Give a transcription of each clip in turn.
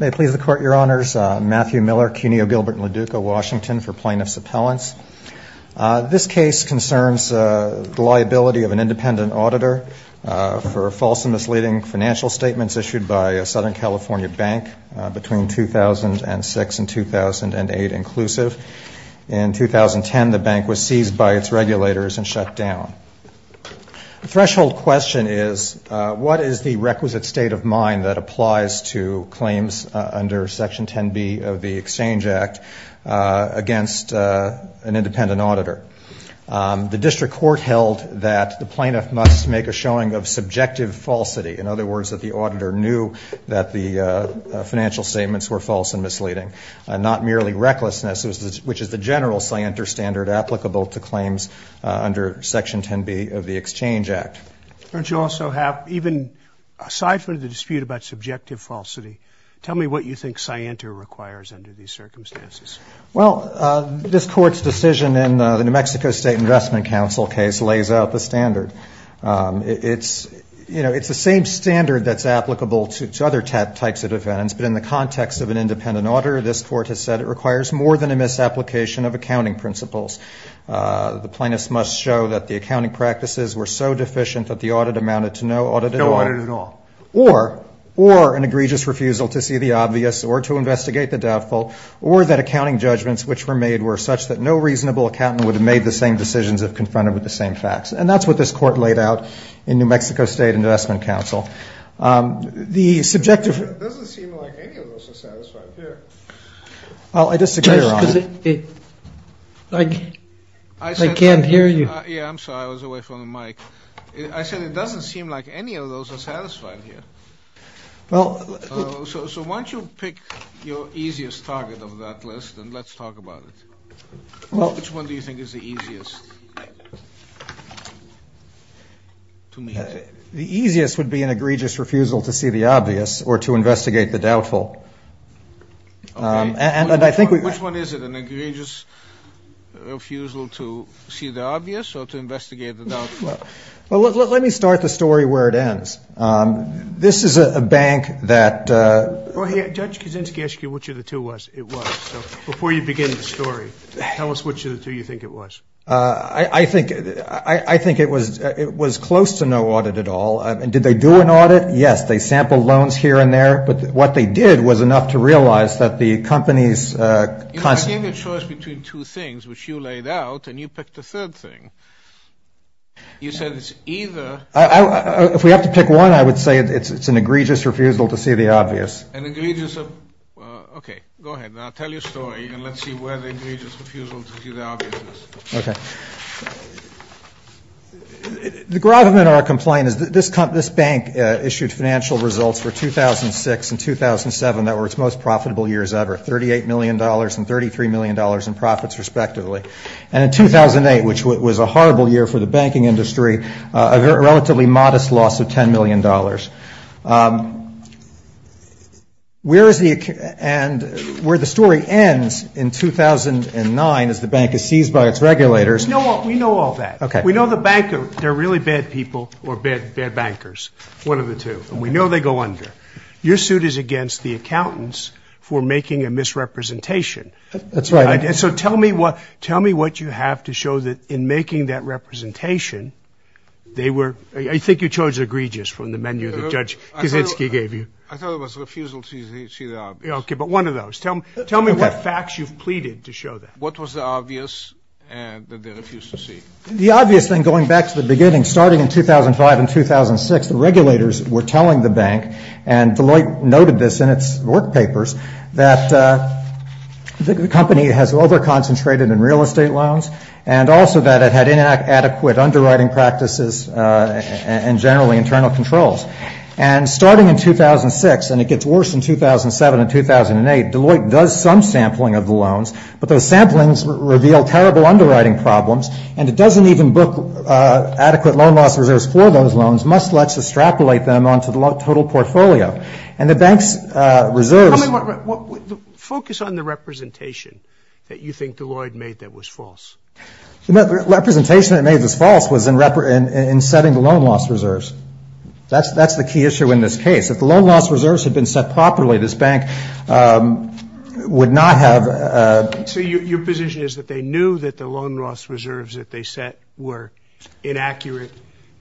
Matthew Miller, CUNY O'Gilbert & LaDuca, Washington, for Plaintiffs' Appellants. This case concerns the liability of an independent auditor for false and misleading financial statements issued by a Southern California bank between 2006 and 2008 inclusive. In 2010, the bank was seized by its regulators and shut down. The threshold question is, what is the requisite state of mind that applies to claims under Section 10B of the Exchange Act against an independent auditor? The district court held that the plaintiff must make a showing of subjective falsity. In other words, that the auditor knew that the financial statements were false and misleading, not merely recklessness, which is the general scienter standard applicable to claims under Section 10B of the Exchange Act. Don't you also have, even aside from the dispute about subjective falsity, tell me what you think scienter requires under these circumstances? Well, this Court's decision in the New Mexico State Investment Council case lays out the standard. It's, you know, it's the same standard that's applicable to other types of defendants, but in the context of an independent auditor, this Court has said it requires more than a misapplication of accounting principles. The plaintiffs must show that the accounting practices were so deficient that the audit amounted to no audit at all. Or an egregious refusal to see the obvious or to investigate the doubtful, or that accounting judgments which were made were such that no reasonable accountant would have made the same decisions if confronted with the same facts. And that's what this Court laid out in New Mexico State Investment Council. It doesn't seem like any of those are satisfied here. Well, I disagree, Your Honor. I can't hear you. Yeah, I'm sorry. I was away from the mic. I said it doesn't seem like any of those are satisfied here. So why don't you pick your easiest target of that list and let's talk about it. Which one do you think is the easiest to meet? The easiest would be an egregious refusal to see the obvious or to investigate the doubtful. Which one is it? An egregious refusal to see the obvious or to investigate the doubtful? Let me start the story where it ends. This is a bank that Judge Kuczynski asked you which of the two it was. So before you begin the story, tell us which of the two you think it was. I think it was close to no audit at all. Did they do an audit? Yes, they sampled loans here and there. But what they did was enough to realize that the company's constant You gave a choice between two things, which you laid out, and you picked the third thing. You said it's either If we have to pick one, I would say it's an egregious refusal to see the obvious. An egregious, okay, go ahead. Now tell your story and let's see where the egregious refusal to see the obvious is. Okay. The gravamen of our complaint is that this bank issued financial results for 2006 and 2007 that were its most profitable years ever, $38 million and $33 million in profits respectively. And in 2008, which was a horrible year for the banking industry, a relatively modest loss of $10 million. Where is the, and where the story ends in 2009 as the bank is seized by its regulators No, we know all that. Okay. We know the bank, they're really bad people or bad, bad bankers, one of the two, and we know they go under. Your suit is against the accountants for making a misrepresentation. That's right. And so tell me what, tell me what you have to show that in making that representation, they were, I think you showed egregious from the menu that judge Kaczynski gave you. I thought it was refusal to see the obvious. Okay. But one of those, tell me, tell me what facts you've pleaded to show that. What was the obvious that they refused to see? The obvious thing, going back to the beginning, starting in 2005 and 2006, the regulators were telling the bank and Deloitte noted this in its work papers that the company has over-concentrated in real estate loans and also that it had inadequate underwriting practices and generally internal controls. And starting in 2006, and it gets worse in 2007 and 2008, Deloitte does some sampling of the loans, but those samplings reveal terrible underwriting problems, and it doesn't even book adequate loan loss reserves for those loans, must let's extrapolate them onto the total portfolio. And the bank's reserves Focus on the representation that you think Deloitte made that was false. The representation that made this false was in setting the loan loss reserves. That's the key issue in this case. If the loan loss reserves had been set properly, this bank would not have. So your position is that they knew that the loan loss reserves that they set were inaccurate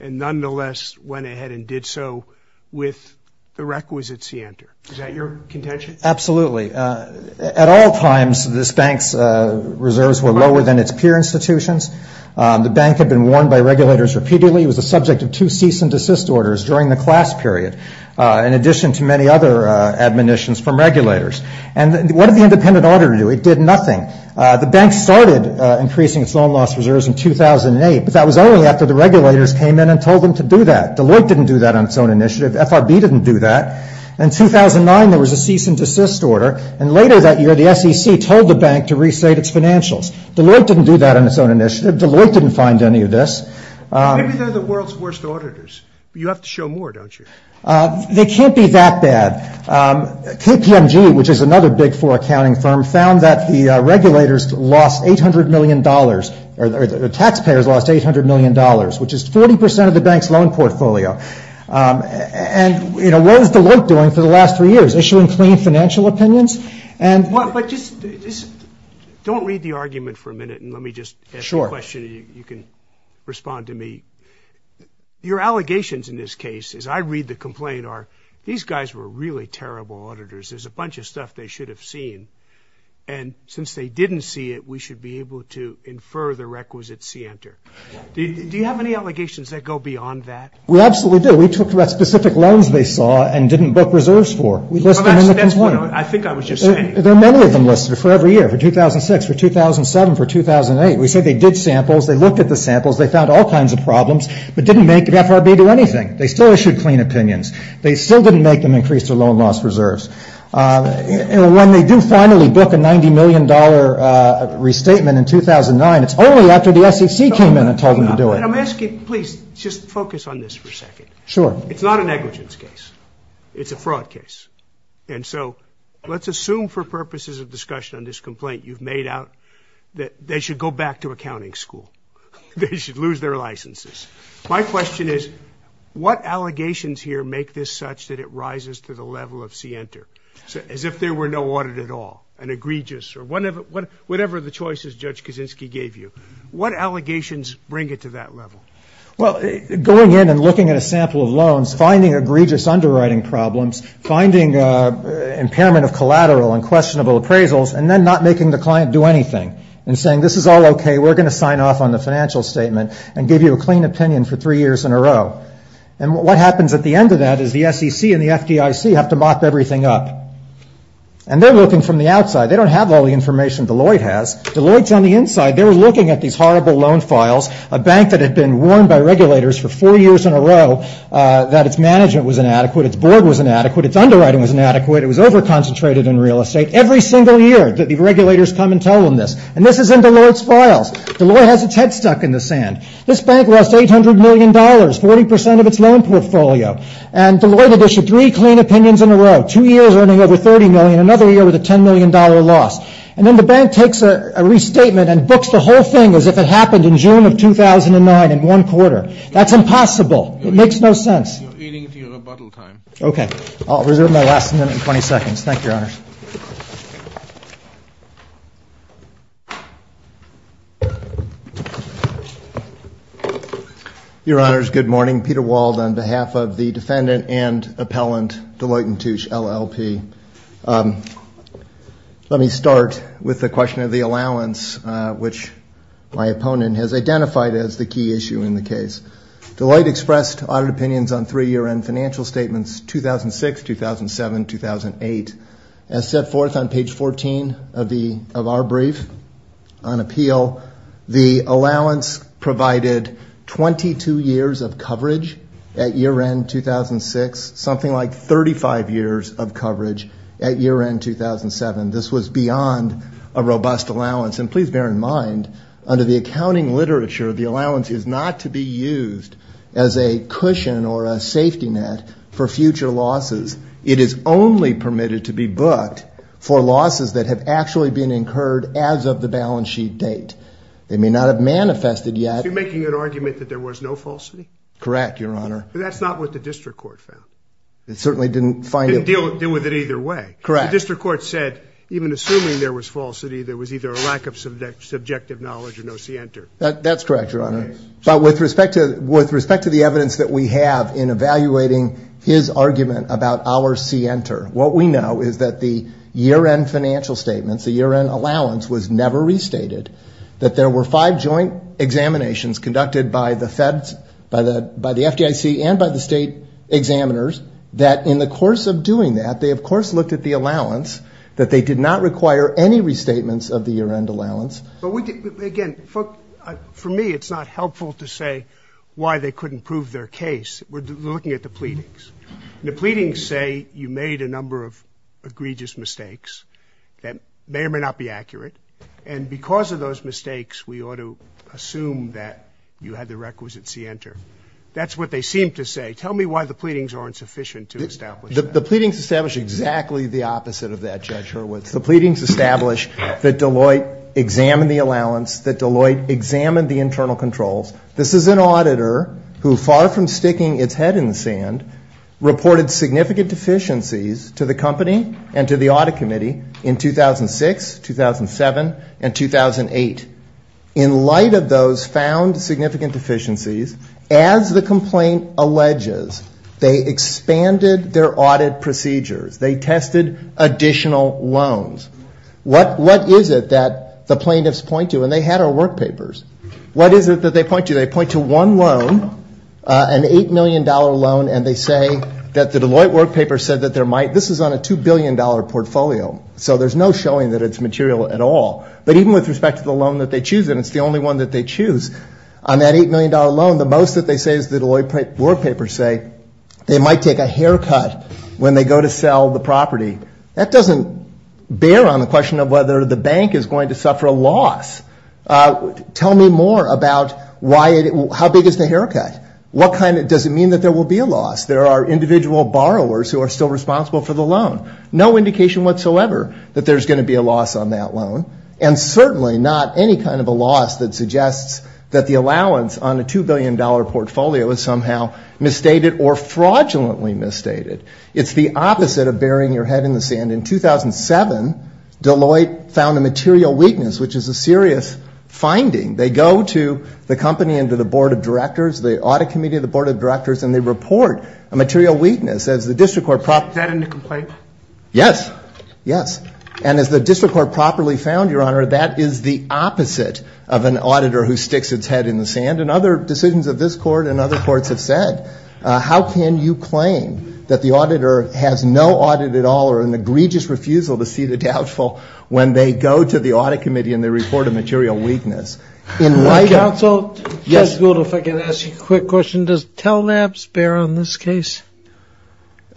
and nonetheless went ahead and did so with the requisites he entered. Is that your contention? Absolutely. At all times, this bank's reserves were lower than its peer institutions. The bank had been warned by regulators repeatedly. It was the subject of two cease and desist orders during the class period, in addition to many other admonitions from regulators. And what did the independent auditor do? It did nothing. The bank started increasing its loan loss reserves in 2008, but that was only after the regulators came in and told them to do that. Deloitte didn't do that on its own initiative. FRB didn't do that. In 2009, there was a cease and desist order. And later that year, the SEC told the bank to restate its financials. Deloitte didn't do that on its own initiative. Deloitte didn't find any of this. Maybe they're the world's worst auditors. You have to show more, don't you? They can't be that bad. KPMG, which is another big four accounting firm, found that the regulators lost $800 million, or the taxpayers lost $800 million, which is 40% of the bank's loan portfolio. And what is Deloitte doing for the last three years? Issuing clean financial opinions? But just don't read the argument for a minute, and let me just ask you a question, and you can respond to me. Your allegations in this case, as I read the complaint, are these guys were really terrible auditors. There's a bunch of stuff they should have seen. And since they didn't see it, we should be able to infer the requisite scienter. Do you have any allegations that go beyond that? We absolutely do. We talked about specific loans they saw and didn't book reserves for. I think I was just saying. There are many of them listed for every year, for 2006, for 2007, for 2008. We said they did samples. They looked at the samples. They found all kinds of problems, but didn't make FRB do anything. They still issued clean opinions. They still didn't make them increase their loan loss reserves. When they do finally book a $90 million restatement in 2009, it's only after the SEC came in and told them to do it. Let me ask you, please, just focus on this for a second. Sure. It's not a negligence case. It's a fraud case. And so let's assume for purposes of discussion on this complaint you've made out that they should go back to accounting school. They should lose their licenses. My question is, what allegations here make this such that it rises to the level of scienter? As if there were no audit at all, an egregious or one of whatever the choices Judge Kaczynski gave you, what allegations bring it to that level? Well, going in and looking at a sample of loans, finding egregious underwriting problems, finding impairment of collateral and questionable appraisals, and then not making the client do anything and saying, this is all okay. We're going to sign off on the financial statement and give you a clean opinion for three years in a row. And what happens at the end of that is the SEC and the FDIC have to mop everything up. And they're looking from the outside. They don't have all the information Deloitte has. Deloitte's on the inside. They're looking at these horrible loan files, a bank that had been warned by regulators for four years in a row that its management was inadequate, its board was inadequate, its underwriting was inadequate, it was over-concentrated in real estate. Every single year the regulators come and tell them this. And this is in Deloitte's files. Deloitte has its head stuck in the sand. This bank lost $800 million, 40% of its loan portfolio. And Deloitte had issued three clean opinions in a row. Two years earning over $30 million, another year with a $10 million loss. And then the bank takes a restatement and books the whole thing as if it happened in June of 2009 in one quarter. That's impossible. It makes no sense. Okay. I'll reserve my last minute and 20 seconds. Thank you, Your Honors. Your Honors, good morning. Peter Wald on behalf of the defendant and appellant Deloitte and Touche, LLP. Let me start with the question of the allowance, which my opponent has identified as the key issue in the case. Deloitte expressed audit opinions on three year-end financial statements, 2006, 2007, 2008. As set forth on page 14 of our brief on appeal, the allowance provided 22 years of coverage at year-end 2006, something like 35 years of coverage at year-end 2007. This was beyond a robust allowance. And please bear in mind, under the accounting literature, the allowance is not to be used as a cushion or a safety net for future losses. It is only permitted to be booked for losses that have actually been incurred as of the balance sheet date. They may not have manifested yet. Is he making an argument that there was no falsity? Correct, Your Honor. That's not what the district court found. It certainly didn't find it. It didn't deal with it either way. Correct. The district court said even assuming there was falsity, there was either a lack of subjective knowledge or no scienter. That's correct, Your Honor. But with respect to the evidence that we have in evaluating his argument about our scienter, what we know is that the year-end financial statements, the year-end allowance was never restated, that there were five joint examinations conducted by the Feds, by the FDIC and by the state examiners, that in the course of doing that, they of course looked at the allowance, that they did not require any restatements of the year-end allowance. Again, for me it's not helpful to say why they couldn't prove their case. We're looking at the pleadings. The pleadings say you made a number of egregious mistakes that may or may not be accurate, and because of those mistakes we ought to assume that you had the requisite scienter. That's what they seem to say. Tell me why the pleadings aren't sufficient to establish that. The pleadings establish exactly the opposite of that, Judge Hurwitz. The pleadings establish that Deloitte examined the allowance, that Deloitte examined the internal controls. This is an auditor who, far from sticking its head in the sand, reported significant deficiencies to the company and to the audit committee in 2006, 2007 and 2008. In light of those found significant deficiencies, as the complaint alleges, they expanded their audit procedures, they tested additional loans. What is it that the plaintiffs point to? And they had our work papers. What is it that they point to? They point to one loan, an $8 million loan, and they say that the Deloitte work paper said that there might, this is on a $2 billion portfolio, so there's no showing that it's material at all. But even with respect to the loan that they choose, and it's the only one that they choose, on that $8 million loan the most that they say is the Deloitte work paper say they might take a haircut when they go to sell the property. That doesn't bear on the question of whether the bank is going to suffer a loss. Tell me more about how big is the haircut? What kind of, does it mean that there will be a loss? There are individual borrowers who are still responsible for the loan. No indication whatsoever that there's going to be a loss on that loan. And certainly not any kind of a loss that suggests that the allowance on a $2 billion portfolio is somehow misstated or fraudulently misstated. It's the opposite of burying your head in the sand. In 2007, Deloitte found a material weakness, which is a serious finding. They go to the company and to the board of directors, the audit committee of the board of directors, and they report a material weakness. And as the district court properly found, Your Honor, that is the opposite of an auditor who sticks his head in the sand. And other decisions of this court and other courts have said, how can you claim that the auditor has no audit at all or an egregious refusal to see the doubtful when they go to the audit committee and they report a material weakness? Counsel, Judge Gould, if I can ask you a quick question, does TELABS bear on this case?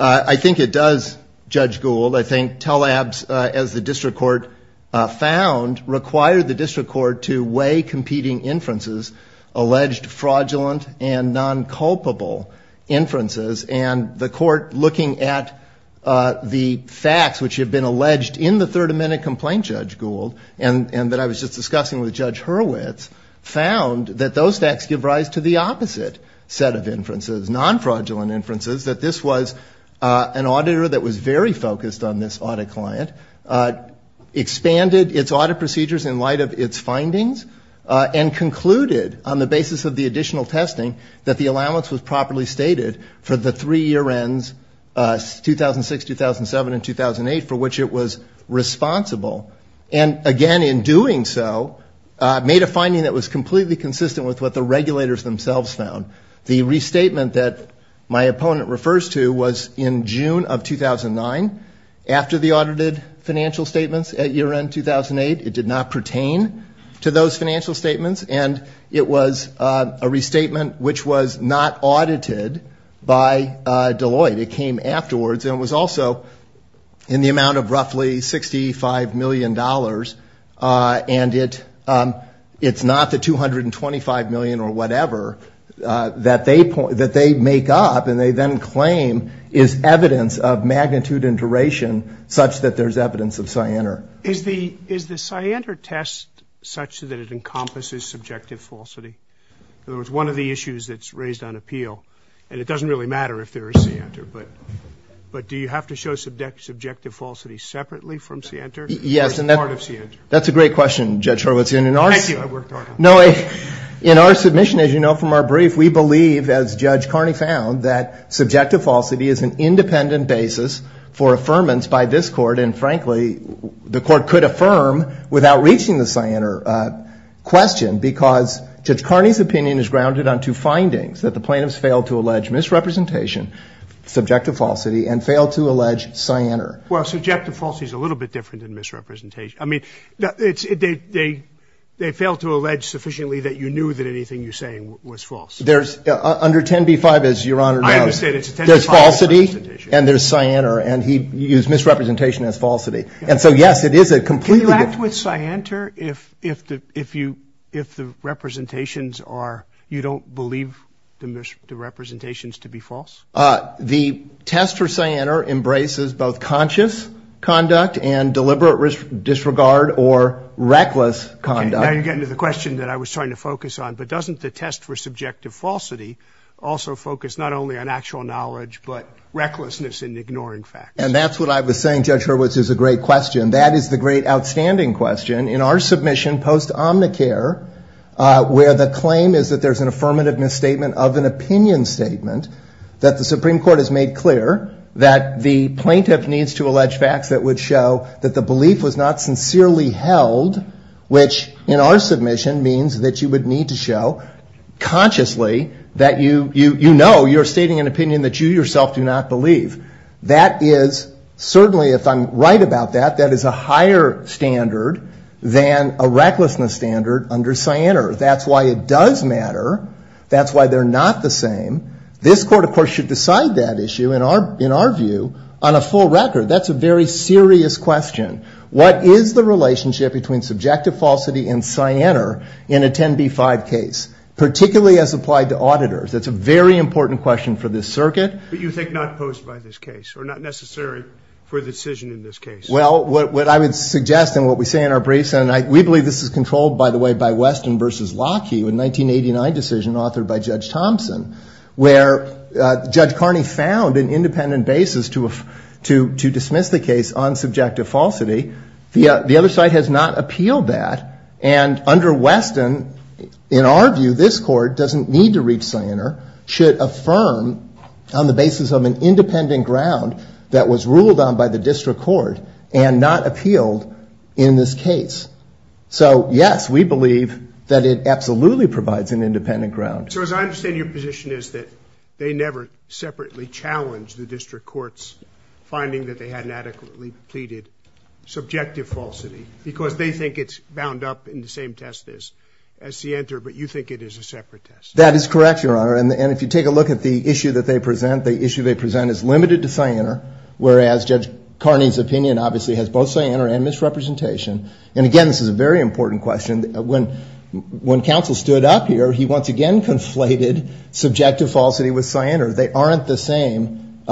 I think it does, Judge Gould. I think TELABS, as the district court found, required the district court to weigh competing inferences, alleged fraudulent and nonculpable inferences. And the court, looking at the facts which have been alleged in the Third Amendment complaint, Judge Gould, and that I was just discussing with Judge Hurwitz, found that those facts give rise to the opposite set of inferences, nonfraudulent inferences, that this was an auditor that was very focused on this audit client, expanded its audit procedures in light of its findings, and concluded on the basis of the additional testing that the allowance was properly stated for the three year ends, 2006, 2007, and 2008, for which it was responsible. And again, in doing so, made a finding that was completely consistent with what the regulators themselves found. The restatement that my opponent refers to was in June of 2009, after the audited financial statements at year end 2008. It did not pertain to those financial statements, and it was a restatement which was not audited by Deloitte. It came afterwards, and it was also in the amount of roughly $65 million. And it's not the $225 million or whatever that they make up, and they then claim is evidence of magnitude and duration such that there's evidence of cyanar. Is the cyanar test such that it encompasses subjective falsity? In other words, one of the issues that's raised on appeal, and it doesn't really matter if there is cyanar, but do you have to show subjective falsity separately from cyanar, or is it part of cyanar? That's a great question, Judge Horowitz. In our submission, as you know from our brief, we believe, as Judge Carney found, that subjective falsity is an independent basis for affirmance by this Court, and frankly, the Court could affirm without reaching the cyanar question, because Judge Carney's opinion is grounded on two findings, that the plaintiffs failed to allege misrepresentation, subjective falsity, and failed to allege cyanar. Well, subjective falsity is a little bit different than misrepresentation. I mean, they failed to allege sufficiently that you knew that anything you're saying was false. Under 10b-5, as Your Honor knows, there's falsity and there's cyanar, and he used misrepresentation as falsity. And so, yes, it is a completely different... Can you act with cyanar if the representations are, you don't believe the representations to be false? The test for cyanar embraces both conscious conduct and deliberate disregard or reckless conduct. Now you're getting to the question that I was trying to focus on, but doesn't the test for subjective falsity also focus not only on actual knowledge, but recklessness in ignoring facts? And that's what I was saying, Judge Hurwitz, is a great question. That is the great outstanding question in our submission post-Omnicare, where the claim is that there's an affirmative misstatement of an opinion statement, that the Supreme Court has made clear that the plaintiff needs to allege facts that would show that the belief was not sincerely held, which in our submission means that you would need to show consciously that you know you're stating an opinion that you yourself do not believe. That is certainly, if I'm right about that, that is a higher standard than a recklessness standard under cyanar. That's why it does matter. That's why they're not the same. This Court, of course, should decide that issue, in our view, on a full record. That's a very serious question. What is the relationship between subjective falsity and cyanar in a 10b-5 case, particularly as applied to auditors? That's a very important question for this circuit. But you think not posed by this case, or not necessary for the decision in this case? Well, what I would suggest, and what we say in our briefs, and we believe this is controlled, by the way, by Weston v. Lockheed, a 1989 decision authored by Judge Thompson, where Judge Carney found an independent basis to dismiss the case on subjective falsity. The other side has not appealed that. And under Weston, in our view, this Court doesn't need to reach cyanar, should affirm on the basis of an independent ground that was ruled on by the district court, and not appealed in this case. So, yes, we believe that it absolutely provides an independent ground. So, as I understand, your position is that they never separately challenged the district court's finding that they hadn't adequately pleaded subjective falsity, because they think it's bound up in the same test as cyanar, but you think it is a separate test. That is correct, Your Honor, and if you take a look at the issue that they present, the issue they present is limited to cyanar, whereas Judge Carney's opinion obviously has both cyanar and misrepresentation. And again, this is a very important question. When counsel stood up here, he once again conflated subjective falsity with cyanar. They aren't the same.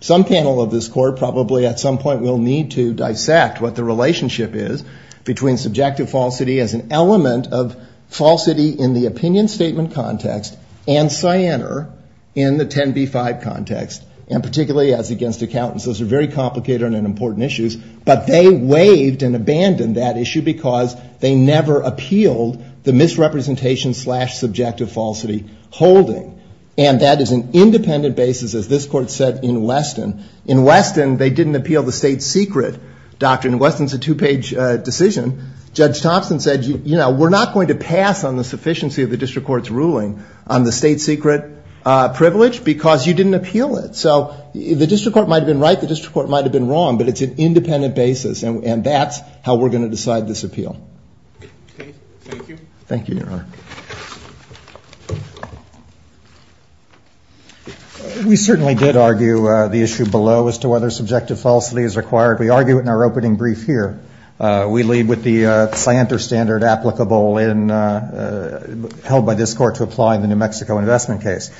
Some panel of this Court probably at some point will need to dissect what the relationship is between subjective falsity as an element of falsity in the opinion statement context and cyanar in the 10b-5 context, and particularly as against accountants. Those are very complicated and important issues, but they waived and abandoned that issue because they never appealed the misrepresentation slash subjective falsity holding. And that is an independent basis, as this Court said in Weston. In Weston, they didn't appeal the state secret doctrine. In Weston, it's a two-page decision. Judge Thompson said, you know, we're not going to pass on the sufficiency of the district court's ruling on the state secret privilege because you didn't appeal it. So the district court might have been right, the district court might have been wrong, but it's an independent basis, and that's how we're going to decide this appeal. Thank you, Your Honor. We certainly did argue the issue below as to whether subjective falsity is required. We argue it in our opening brief here. We leave with the cyanar standard applicable and held by this Court to apply in the New Mexico investment case.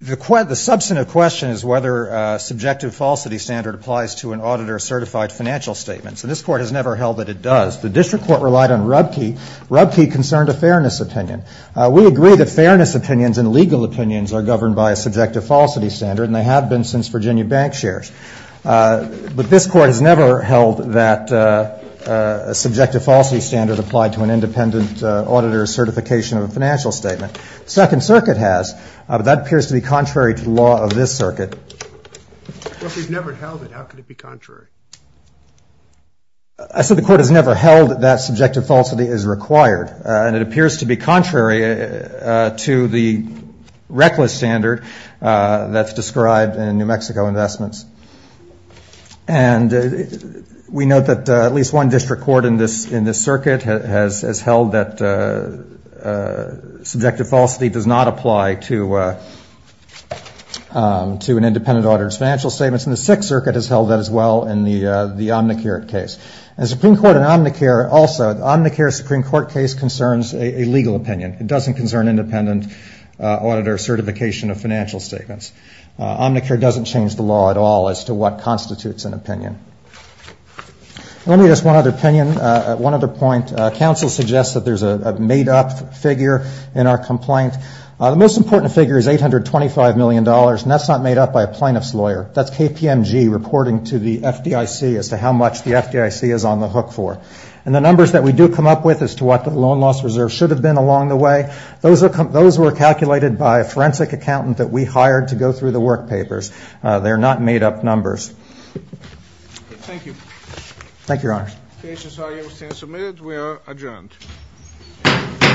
The substantive question is whether subjective falsity standard applies to an auditor-certified financial statement. This Court has never held that it does. The district court relied on Rubkey. Rubkey concerned a fairness opinion. We agree that fairness opinions and legal opinions are governed by a subjective falsity standard, and they have been since Virginia bank shares. But this Court has never held that a subjective falsity standard applied to an independent auditor-certification of a financial statement. The second circuit has, but that appears to be contrary to the law of this circuit. Well, if we've never held it, how could it be contrary? I said the Court has never held that subjective falsity is required, and it appears to be contrary to the reckless standard that's described in New Mexico investments. And we note that at least one district court in this circuit has held that subjective falsity is required. Subjective falsity does not apply to an independent auditor's financial statements, and the sixth circuit has held that as well in the Omnicare case. And the Supreme Court in Omnicare also, the Omnicare Supreme Court case concerns a legal opinion. It doesn't concern independent auditor-certification of financial statements. Omnicare doesn't change the law at all as to what constitutes an opinion. Let me ask one other opinion, one other point. The most important figure is $825 million, and that's not made up by a plaintiff's lawyer. That's KPMG reporting to the FDIC as to how much the FDIC is on the hook for. And the numbers that we do come up with as to what the loan loss reserve should have been along the way, those were calculated by a forensic accountant that we hired to go through the work papers. They're not made-up numbers. Thank you.